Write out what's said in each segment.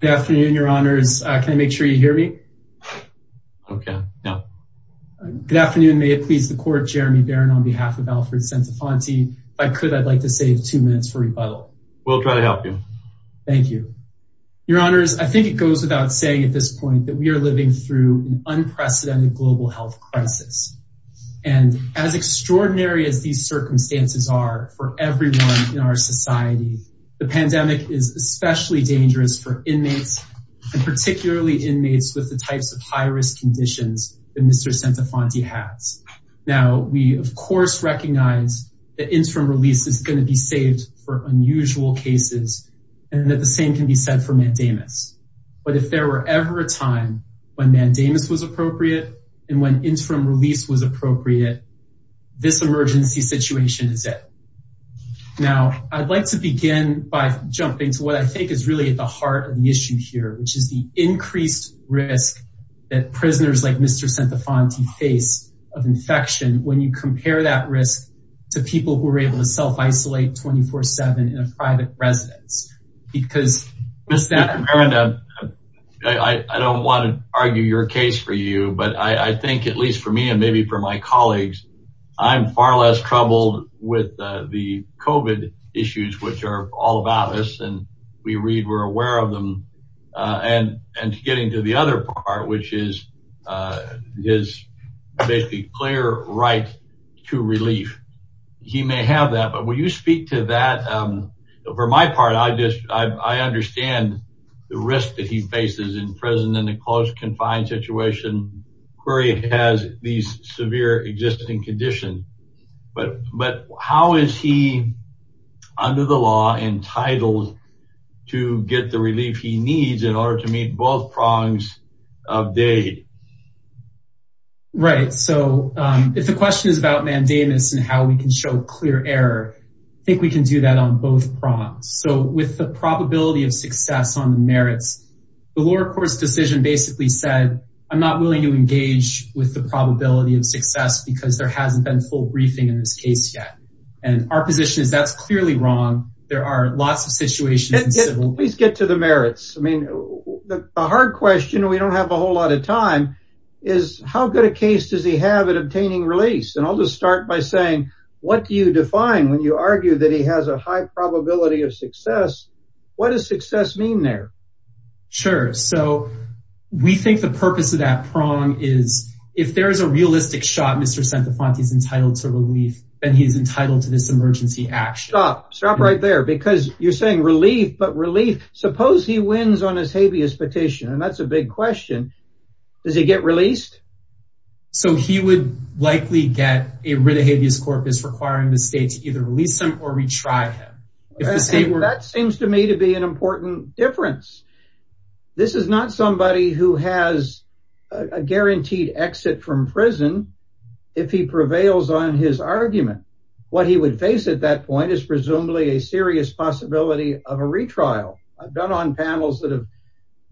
Good afternoon, your honors. Can I make sure you hear me? Okay. Yeah. Good afternoon. May it please the court. Jeremy Barron on behalf of Alfred Centofanti. If I could, I'd like to save two minutes for rebuttal. We'll try to help you. Thank you. Your honors. I think it goes without saying at this point that we are living through an unprecedented global health crisis. And as extraordinary as these circumstances are for everyone in our society, the situation is dangerous for inmates and particularly inmates with the types of high-risk conditions that Mr. Centofanti has. Now, we of course recognize that interim release is going to be saved for unusual cases and that the same can be said for mandamus. But if there were ever a time when mandamus was appropriate and when interim release was appropriate, this emergency situation is it. Now, I'd like to begin by jumping to what I think is really at the heart of the issue here, which is the increased risk that prisoners like Mr. Centofanti face of infection. When you compare that risk to people who are able to self-isolate 24 seven in a private residence, because... Mr. Barron, I don't want to argue your case for you, but I think at least for me and maybe for my colleagues, I'm far less troubled with the COVID issues, which are all about us. And we read, we're aware of them. And getting to the other part, which is his basically clear right to relief. He may have that. But when you speak to that, for my part, I understand the risk that he faces in being present in a closed, confined situation where he has these severe existing conditions. But how is he under the law entitled to get the relief he needs in order to meet both prongs of dade? Right, so if the question is about mandamus and how we can show clear error, I think we can do that on both prongs. So with the probability of success on the merits, the lower court's decision basically said, I'm not willing to engage with the probability of success because there hasn't been full briefing in this case yet. And our position is that's clearly wrong. There are lots of situations... Please get to the merits. I mean, the hard question, we don't have a whole lot of time, is how good a case does he have at obtaining release? And I'll just start by saying, what do you define when you argue that he has a high probability of success? What does success mean there? Sure. So we think the purpose of that prong is if there is a realistic shot, Mr. Santafonte is entitled to relief and he's entitled to this emergency action. Stop. Stop right there, because you're saying relief, but relief. Suppose he wins on his habeas petition. And that's a big question. Does he get released? So he would likely get rid of habeas corpus requiring the state to either release him or retry him. That seems to me to be an important difference. This is not somebody who has a guaranteed exit from prison if he prevails on his argument. What he would face at that point is presumably a serious possibility of a retrial. I've done on panels that have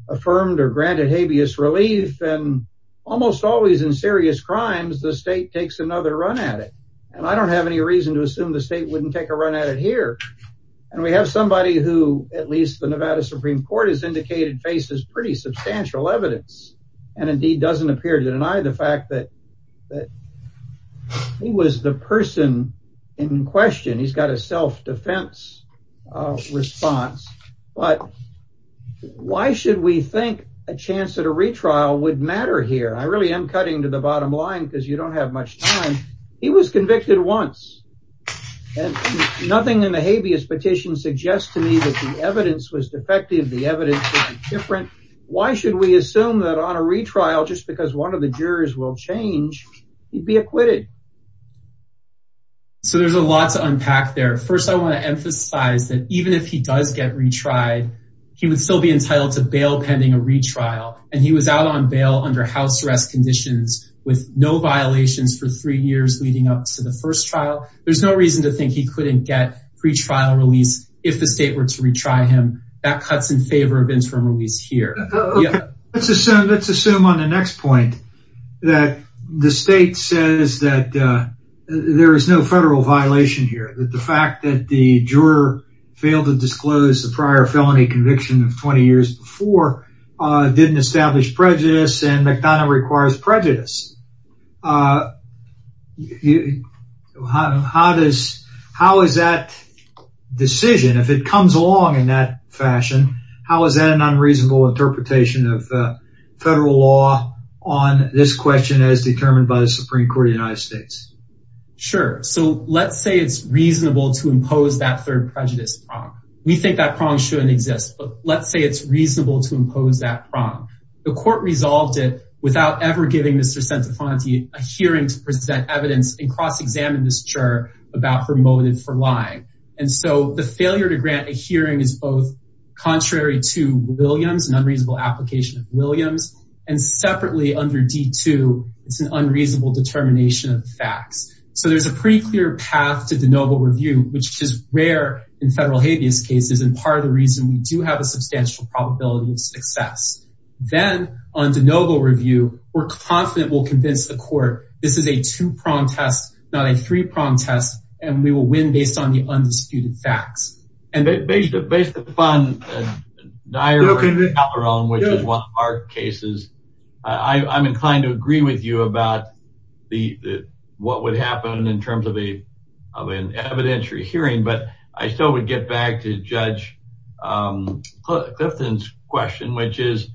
affirmed or granted habeas relief and almost always in serious crimes, the state takes another run at it. And I don't have any reason to assume the state wouldn't take a run at it here. And we have somebody who at least the Nevada Supreme Court has indicated faces pretty substantial evidence and indeed doesn't appear to deny the fact that that he was the person in question. He's got a self-defense response. But why should we think a chance at a retrial would matter here? I really am cutting to the bottom line because you don't have much time. He was convicted once and nothing in the habeas petition suggests to me that the evidence was defective. The evidence is different. Why should we assume that on a retrial, just because one of the jurors will change, he'd be acquitted? So there's a lot to unpack there. First, I want to emphasize that even if he does get retried, he would still be entitled to bail pending a retrial. And he was out on bail under house arrest conditions with no violations for three years leading up to the first trial. There's no reason to think he couldn't get pretrial release if the state were to retry him. That cuts in favor of interim release here. Let's assume on the next point that the state says that there is no federal violation here, that the fact that the juror failed to disclose the prior felony conviction of 20 established prejudice and McDonough requires prejudice. How does, how is that decision, if it comes along in that fashion, how is that an unreasonable interpretation of federal law on this question as determined by the Supreme Court of the United States? Sure. So let's say it's reasonable to impose that third prejudice prong. We think that prong shouldn't exist, but let's say it's reasonable to impose that the court resolved it without ever giving Mr. Centifanti a hearing to present evidence and cross-examine this juror about her motive for lying. And so the failure to grant a hearing is both contrary to Williams, an unreasonable application of Williams, and separately under D2, it's an unreasonable determination of the facts. So there's a pretty clear path to de novo review, which is rare in federal habeas cases Then on de novo review, we're confident we'll convince the court this is a two prong test, not a three prong test, and we will win based on the undisputed facts. And based upon Naira and Calderon, which is one of our cases, I'm inclined to agree with you about what would happen in terms of an evidentiary hearing. But I still would get back to Judge Clifton's question, which is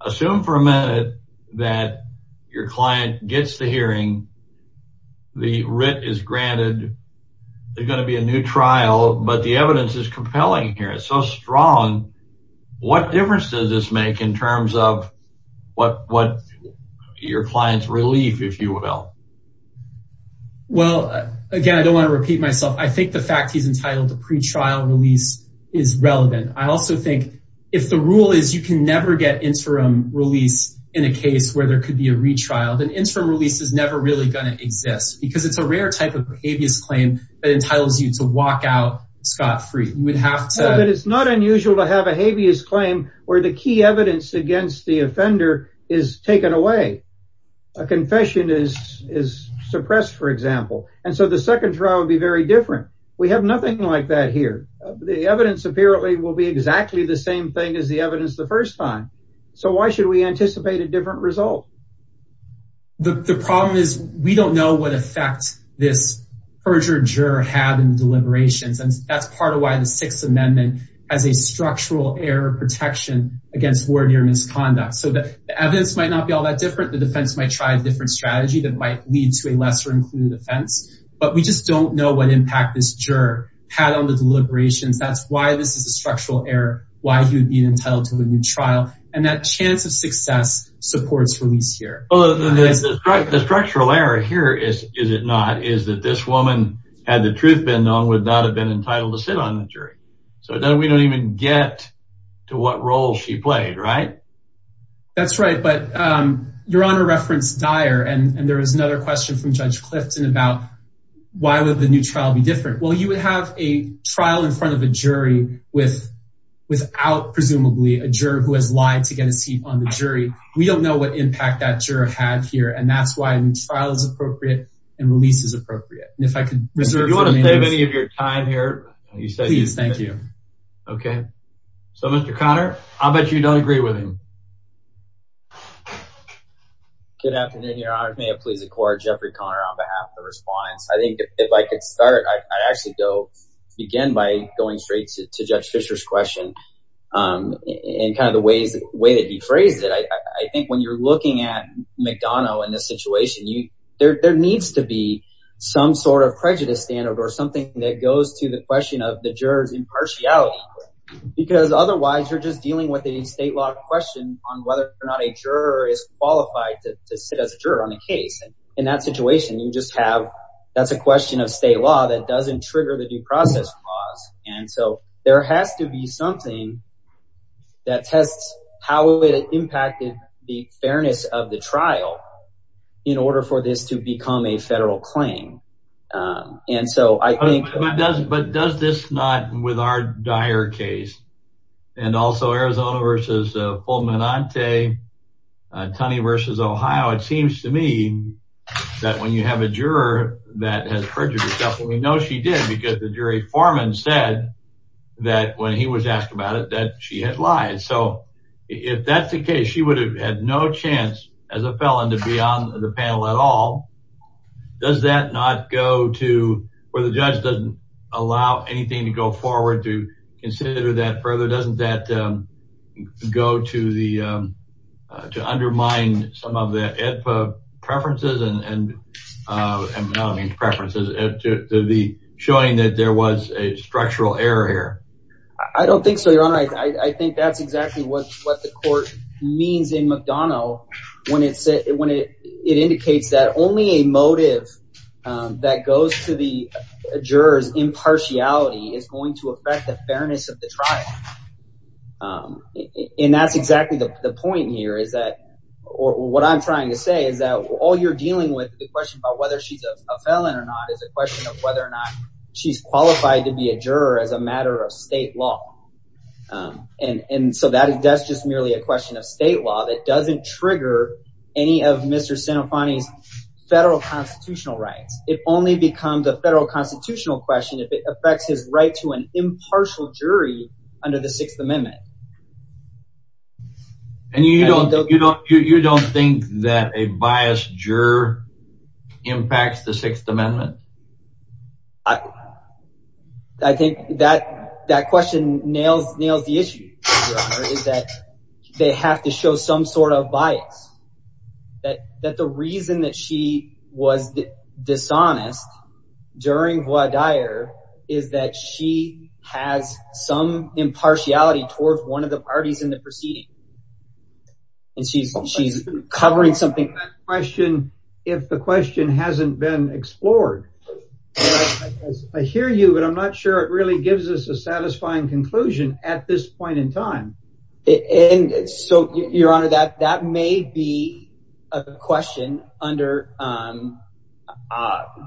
assume for a minute that your client gets the hearing, the writ is granted, there's going to be a new trial, but the evidence is compelling here. It's so strong. What difference does this make in terms of what your client's relief, if you will? Well, again, I don't want to repeat myself. I think the fact he's entitled to pre-trial release is relevant. I also think if the rule is you can never get interim release in a case where there could be a retrial, then interim release is never really going to exist because it's a rare type of habeas claim that entitles you to walk out scot-free. You would have to... No, but it's not unusual to have a habeas claim where the key evidence against the offender is taken away. A confession is suppressed, for example. And so the second trial would be very different. We have nothing like that here. The evidence apparently will be exactly the same thing as the evidence the first time. So why should we anticipate a different result? The problem is we don't know what effect this perjured juror had in deliberations. And that's part of why the Sixth Amendment has a structural error protection against ordinary misconduct. So the evidence might not be all that different. The defense might try a different strategy that might lead to a lesser-included offense. But we just don't know what impact this juror had on the deliberations. That's why this is a structural error, why he would be entitled to a new trial. And that chance of success supports release here. The structural error here is, is it not, is that this woman, had the truth been known, would not have been entitled to sit on the jury. So then we don't even get to what role she played, right? That's right. But Your Honor referenced Dyer, and there is another question from Judge Clifton about why would the new trial be different? Well, you would have a trial in front of a jury without, presumably, a juror who has lied to get a seat on the jury. We don't know what impact that juror had here. And that's why a new trial is appropriate and release is appropriate. And if I could reserve the name of the juror. Do you want to save any of your time here? Please, thank you. OK. So, Mr. McDonough, do you agree with him? Good afternoon, Your Honor. May it please the court. Jeffrey Conner on behalf of the respondents. I think if I could start, I'd actually go begin by going straight to Judge Fischer's question and kind of the way that he phrased it. I think when you're looking at McDonough in this situation, there needs to be some sort of prejudice standard or something that goes to the question of the juror's question on whether or not a juror is qualified to sit as a juror on the case. In that situation, you just have that's a question of state law that doesn't trigger the due process clause. And so there has to be something that tests how it impacted the fairness of the trial in order for this to become a federal claim. And so I think. But does this not, with our dire case and also Arizona versus Fulminante, Tunney versus Ohio, it seems to me that when you have a juror that has perjured herself, and we know she did because the jury foreman said that when he was asked about it, that she had lied. So if that's the case, she would have had no chance as a felon to be on the panel at all. Does that not go to where the judge doesn't allow anything to go forward to consider that further? Doesn't that go to undermine some of the preferences and preferences to the showing that there was a structural error here? I don't think so, Your Honor. I think that's exactly what the court means in McDonough when it indicates that only a motive that goes to the jurors impartiality is going to affect the fairness of the trial. And that's exactly the point here is that or what I'm trying to say is that all you're dealing with the question about whether she's a felon or not is a question of whether or not she's qualified to be a juror as a matter of state law. And so that is just merely a question of state law that doesn't trigger any of Mr. Santofani's federal constitutional rights. It only becomes a federal constitutional question if it affects his right to an impartial jury under the Sixth Amendment. And you don't you don't you don't think that a biased juror impacts the Sixth Amendment? I think that that question nails nails the issue is that they have to show some sort of bias, that that the reason that she was dishonest during voir dire is that she has some impartiality towards one of the parties in the proceeding. And she's she's covering something. Question, if the question hasn't been explored, I hear you, but I'm not sure it really gives us a satisfying conclusion at this point in time. And so, Your Honor, that that may be a question under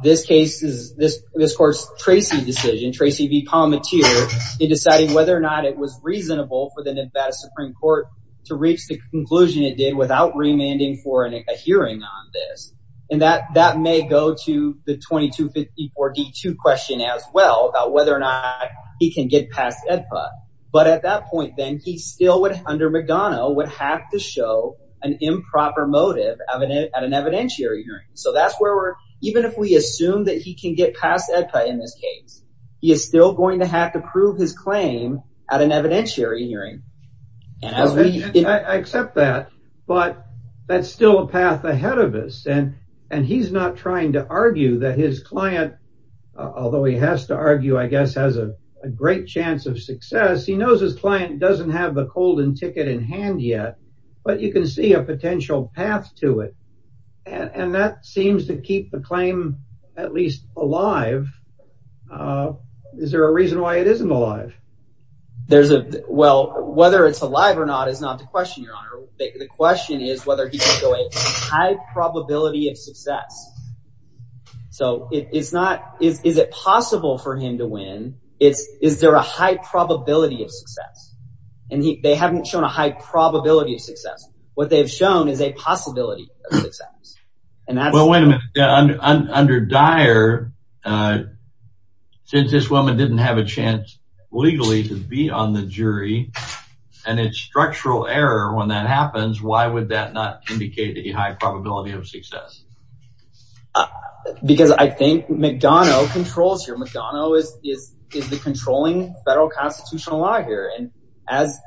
this case is this this court's Tracy decision, Tracy v. Palmateer in deciding whether or not it was reasonable for the Nevada Supreme Court to reach the conclusion it did without remanding for a hearing on this. And that that may go to the 2254 D2 question as well about whether or not he can get past EDPA. But at that point, then he still would under McDonough would have to show an improper motive at an evidentiary hearing. So that's where we're even if we assume that he can get past EDPA in this case, he is still going to have to prove his claim at an evidentiary hearing. And I accept that, but that's still a path ahead of us. And and he's not trying to argue that his client, although he has to argue, I guess, has a great chance of success. He knows his client doesn't have the golden ticket in hand yet, but you can see a potential path to it. And that seems to keep the claim at least alive. Is there a reason why it isn't alive? There's a well, whether it's alive or not is not the question. Your Honor, the question is whether he can go a high probability of success. So it's not is it possible for him to win? It's is there a high probability of success? And they haven't shown a high probability of success. What they've shown is a possibility of success. And that's well, when under Dyer, since this woman didn't have a chance legally to be on the jury and it's structural error when that happens, why would that not indicate a high probability of success? Because I think McDonough controls your McDonough is is is the controlling federal constitutional law here. And as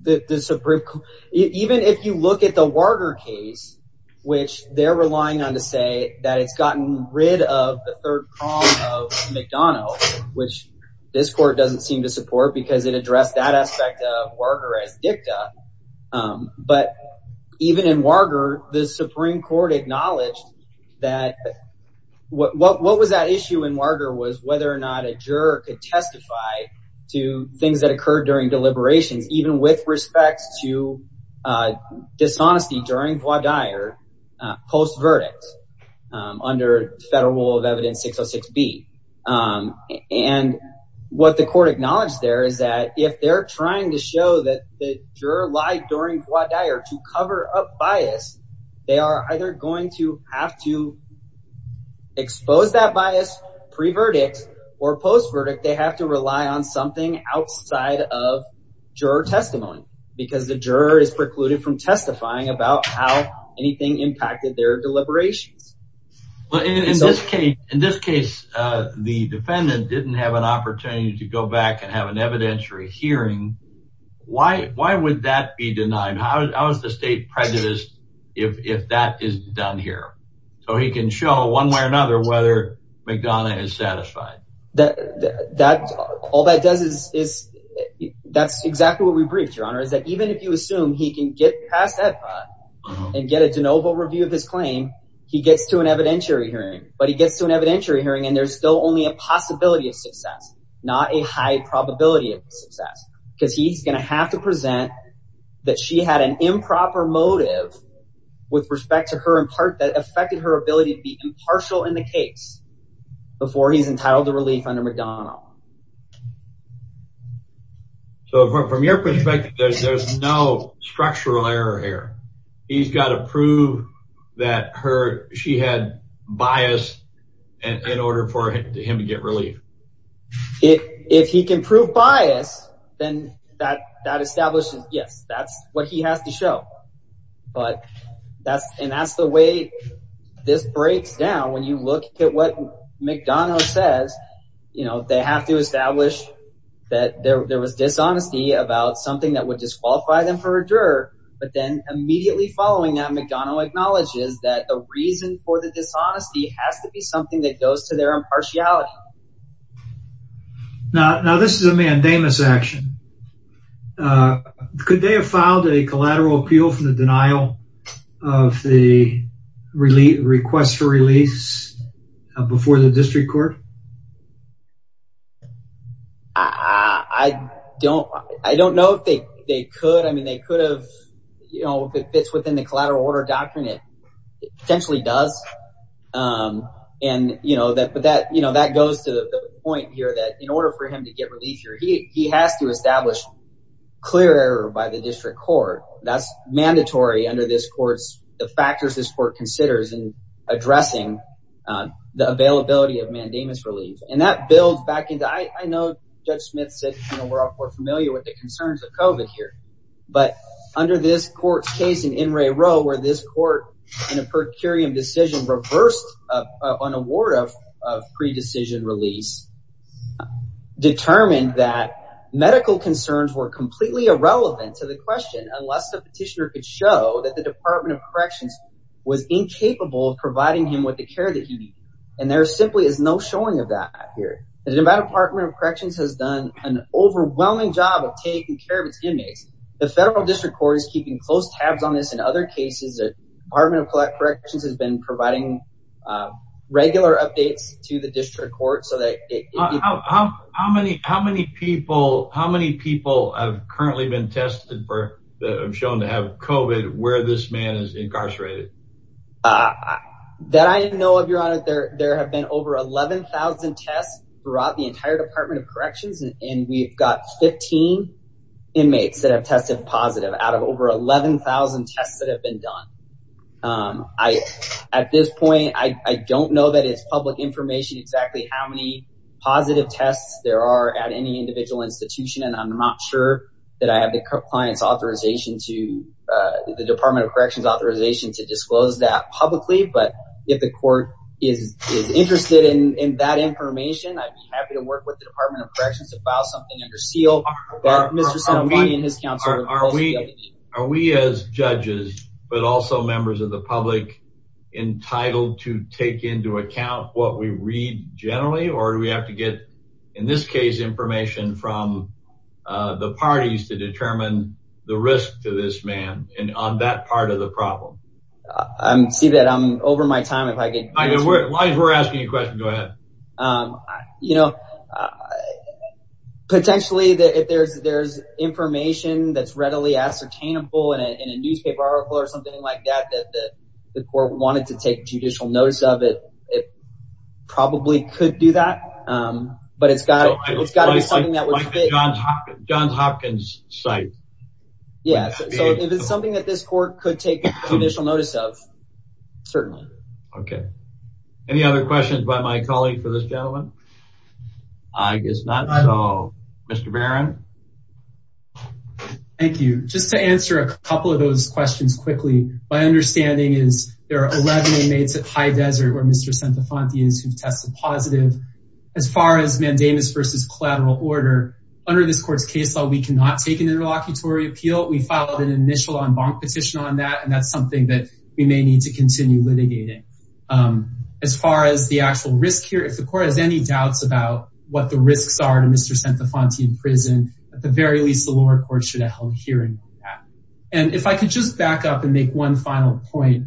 the Supreme Court, even if you look at the Warger case, which they're relying on to say that it's gotten rid of the third column of McDonough, which this court doesn't seem to support because it addressed that aspect of Warger as dicta. But even in Warger, the Supreme Court acknowledged that what was that issue in Warger was whether or not a juror could testify to things that occurred during deliberations, even with respects to dishonesty during Dyer post verdict under federal rule of evidence 606B. And what the court acknowledged there is that if they're trying to show that the juror lied during Dyer to cover up bias, they are either going to have to expose that bias pre verdict or post verdict. They have to rely on something outside of juror testimony because the juror is precluded from testifying about how anything impacted their deliberations. Well, in this case, in this case, the defendant didn't have an opportunity to go back and have an evidentiary hearing. Why why would that be denied? How is the state prejudice if that is done here so he can show one way or another whether McDonough is satisfied that that all that does is is that's exactly what we breached, Your Honor, is that even if you assume he can get past that and get a de novo review of his claim, he gets to an evidentiary hearing, but he gets to an evidentiary hearing and there's still only a possibility of success, not a high probability of success because he's going to have to present that she had an improper motive with respect to her in part that affected her ability to be impartial in the case before he's entitled to relief under McDonough. So from your perspective, there's there's no structural error here, he's got to prove that her she had bias and in order for him to get relief, if if he can prove bias, then that that establishes, yes, that's what he has to show, but that's and that's the way this breaks down. When you look at what McDonough says, you know, they have to establish that there was dishonesty about something that would disqualify them for a juror, but then immediately following that McDonough acknowledges that the reason for the dishonesty has to be something that goes to their impartiality. Now, this is a mandamus action. Uh, could they have filed a collateral appeal for the denial of the relief request for release before the district court? I don't, I don't know if they could. I mean, they could have, you know, if it fits within the collateral order doctrine, it potentially does. Um, and you know that, but that, you know, that goes to the point here that in order for him to get relief here, he, he has to establish clear error by the district court. That's mandatory under this court's, the factors this court considers in addressing the availability of mandamus relief. And that builds back into, I know Judge Smith said, you know, we're all familiar with the concerns of COVID here, but under this court's case in N. Ray Rowe, where this court in a pre-decision release determined that medical concerns were completely irrelevant to the question, unless the petitioner could show that the department of corrections was incapable of providing him with the care that he needed. And there simply is no showing of that here. The Nevada department of corrections has done an overwhelming job of taking care of its inmates. The federal district court is keeping close tabs on this. In other cases, the department of corrections has been providing, uh, regular updates to the district court. So that how, how, how many, how many people, how many people have currently been tested for that? I'm shown to have COVID where this man is incarcerated. Uh, that I didn't know of your honor there, there have been over 11,000 tests throughout the entire department of corrections. And we've got 15 inmates that have tested positive out of over 11,000 tests that have been done. Um, I, at this point, I don't know that it's public information, exactly how many positive tests there are at any individual institution. And I'm not sure that I have the client's authorization to, uh, the department of corrections authorization to disclose that publicly. But if the court is, is interested in, in that information, I'd be happy to work with the department of corrections to file something under seal. Are we, are we as judges, but also members of the public entitled to take into account what we read generally? Or do we have to get, in this case, information from, uh, the parties to determine the risk to this man and on that part of the problem? I see that I'm over my time. If I could, As long as we're asking you a question, go ahead. Um, you know, uh, potentially that if there's, there's information that's readily ascertainable in a, in a newspaper article or something like that, that, that the court wanted to take judicial notice of it, it probably could do that. Um, but it's got, it's got to be something that would fit. Like the Johns Hopkins, Johns Hopkins site. Yeah. So if it's something that this court could take judicial notice of, certainly. Okay. Any other questions by my colleague for this gentleman? I guess not. So Mr. Barron. Thank you. Just to answer a couple of those questions quickly. My understanding is there are 11 inmates at High Desert where Mr. Santafonte is who tested positive. As far as mandamus versus collateral order under this court's case law, we cannot take an interlocutory appeal. We filed an initial en banc petition on that. And that's something that we may need to continue litigating. Um, as far as the actual risk here, if the court has any doubts about what the risks are to Mr. Santafonte in prison, at the very least the lower court should have held hearing on that. And if I could just back up and make one final point,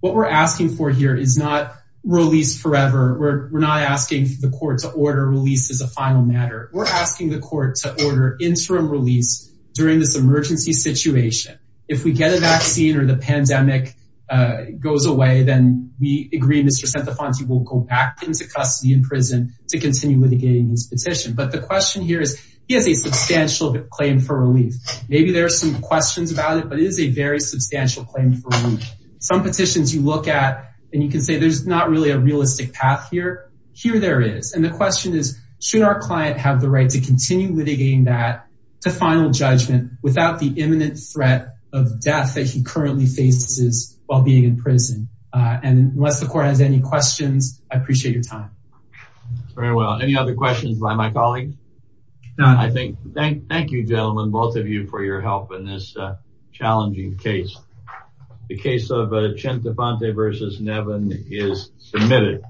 what we're asking for here is not release forever. We're, we're not asking the court to order release as a final matter. We're asking the court to order interim release during this emergency situation. If we get a vaccine or the pandemic, uh, goes away, then we agree. Mr. Santafonte will go back into custody in prison to continue litigating this petition. But the question here is he has a substantial claim for relief. Maybe there are some questions about it, but it is a very substantial claim for relief. Some petitions you look at and you can say, there's not really a realistic path here. Here there is. And the question is, should our client have the right to continue litigating that to final judgment without the imminent threat of death that he currently faces while being in prison? Uh, and unless the court has any questions, I appreciate your time. Very well. Any other questions by my colleague? None. I think, thank, thank you gentlemen, both of you for your help in this challenging case. The case of, uh, Santafonte versus Nevin is submitted.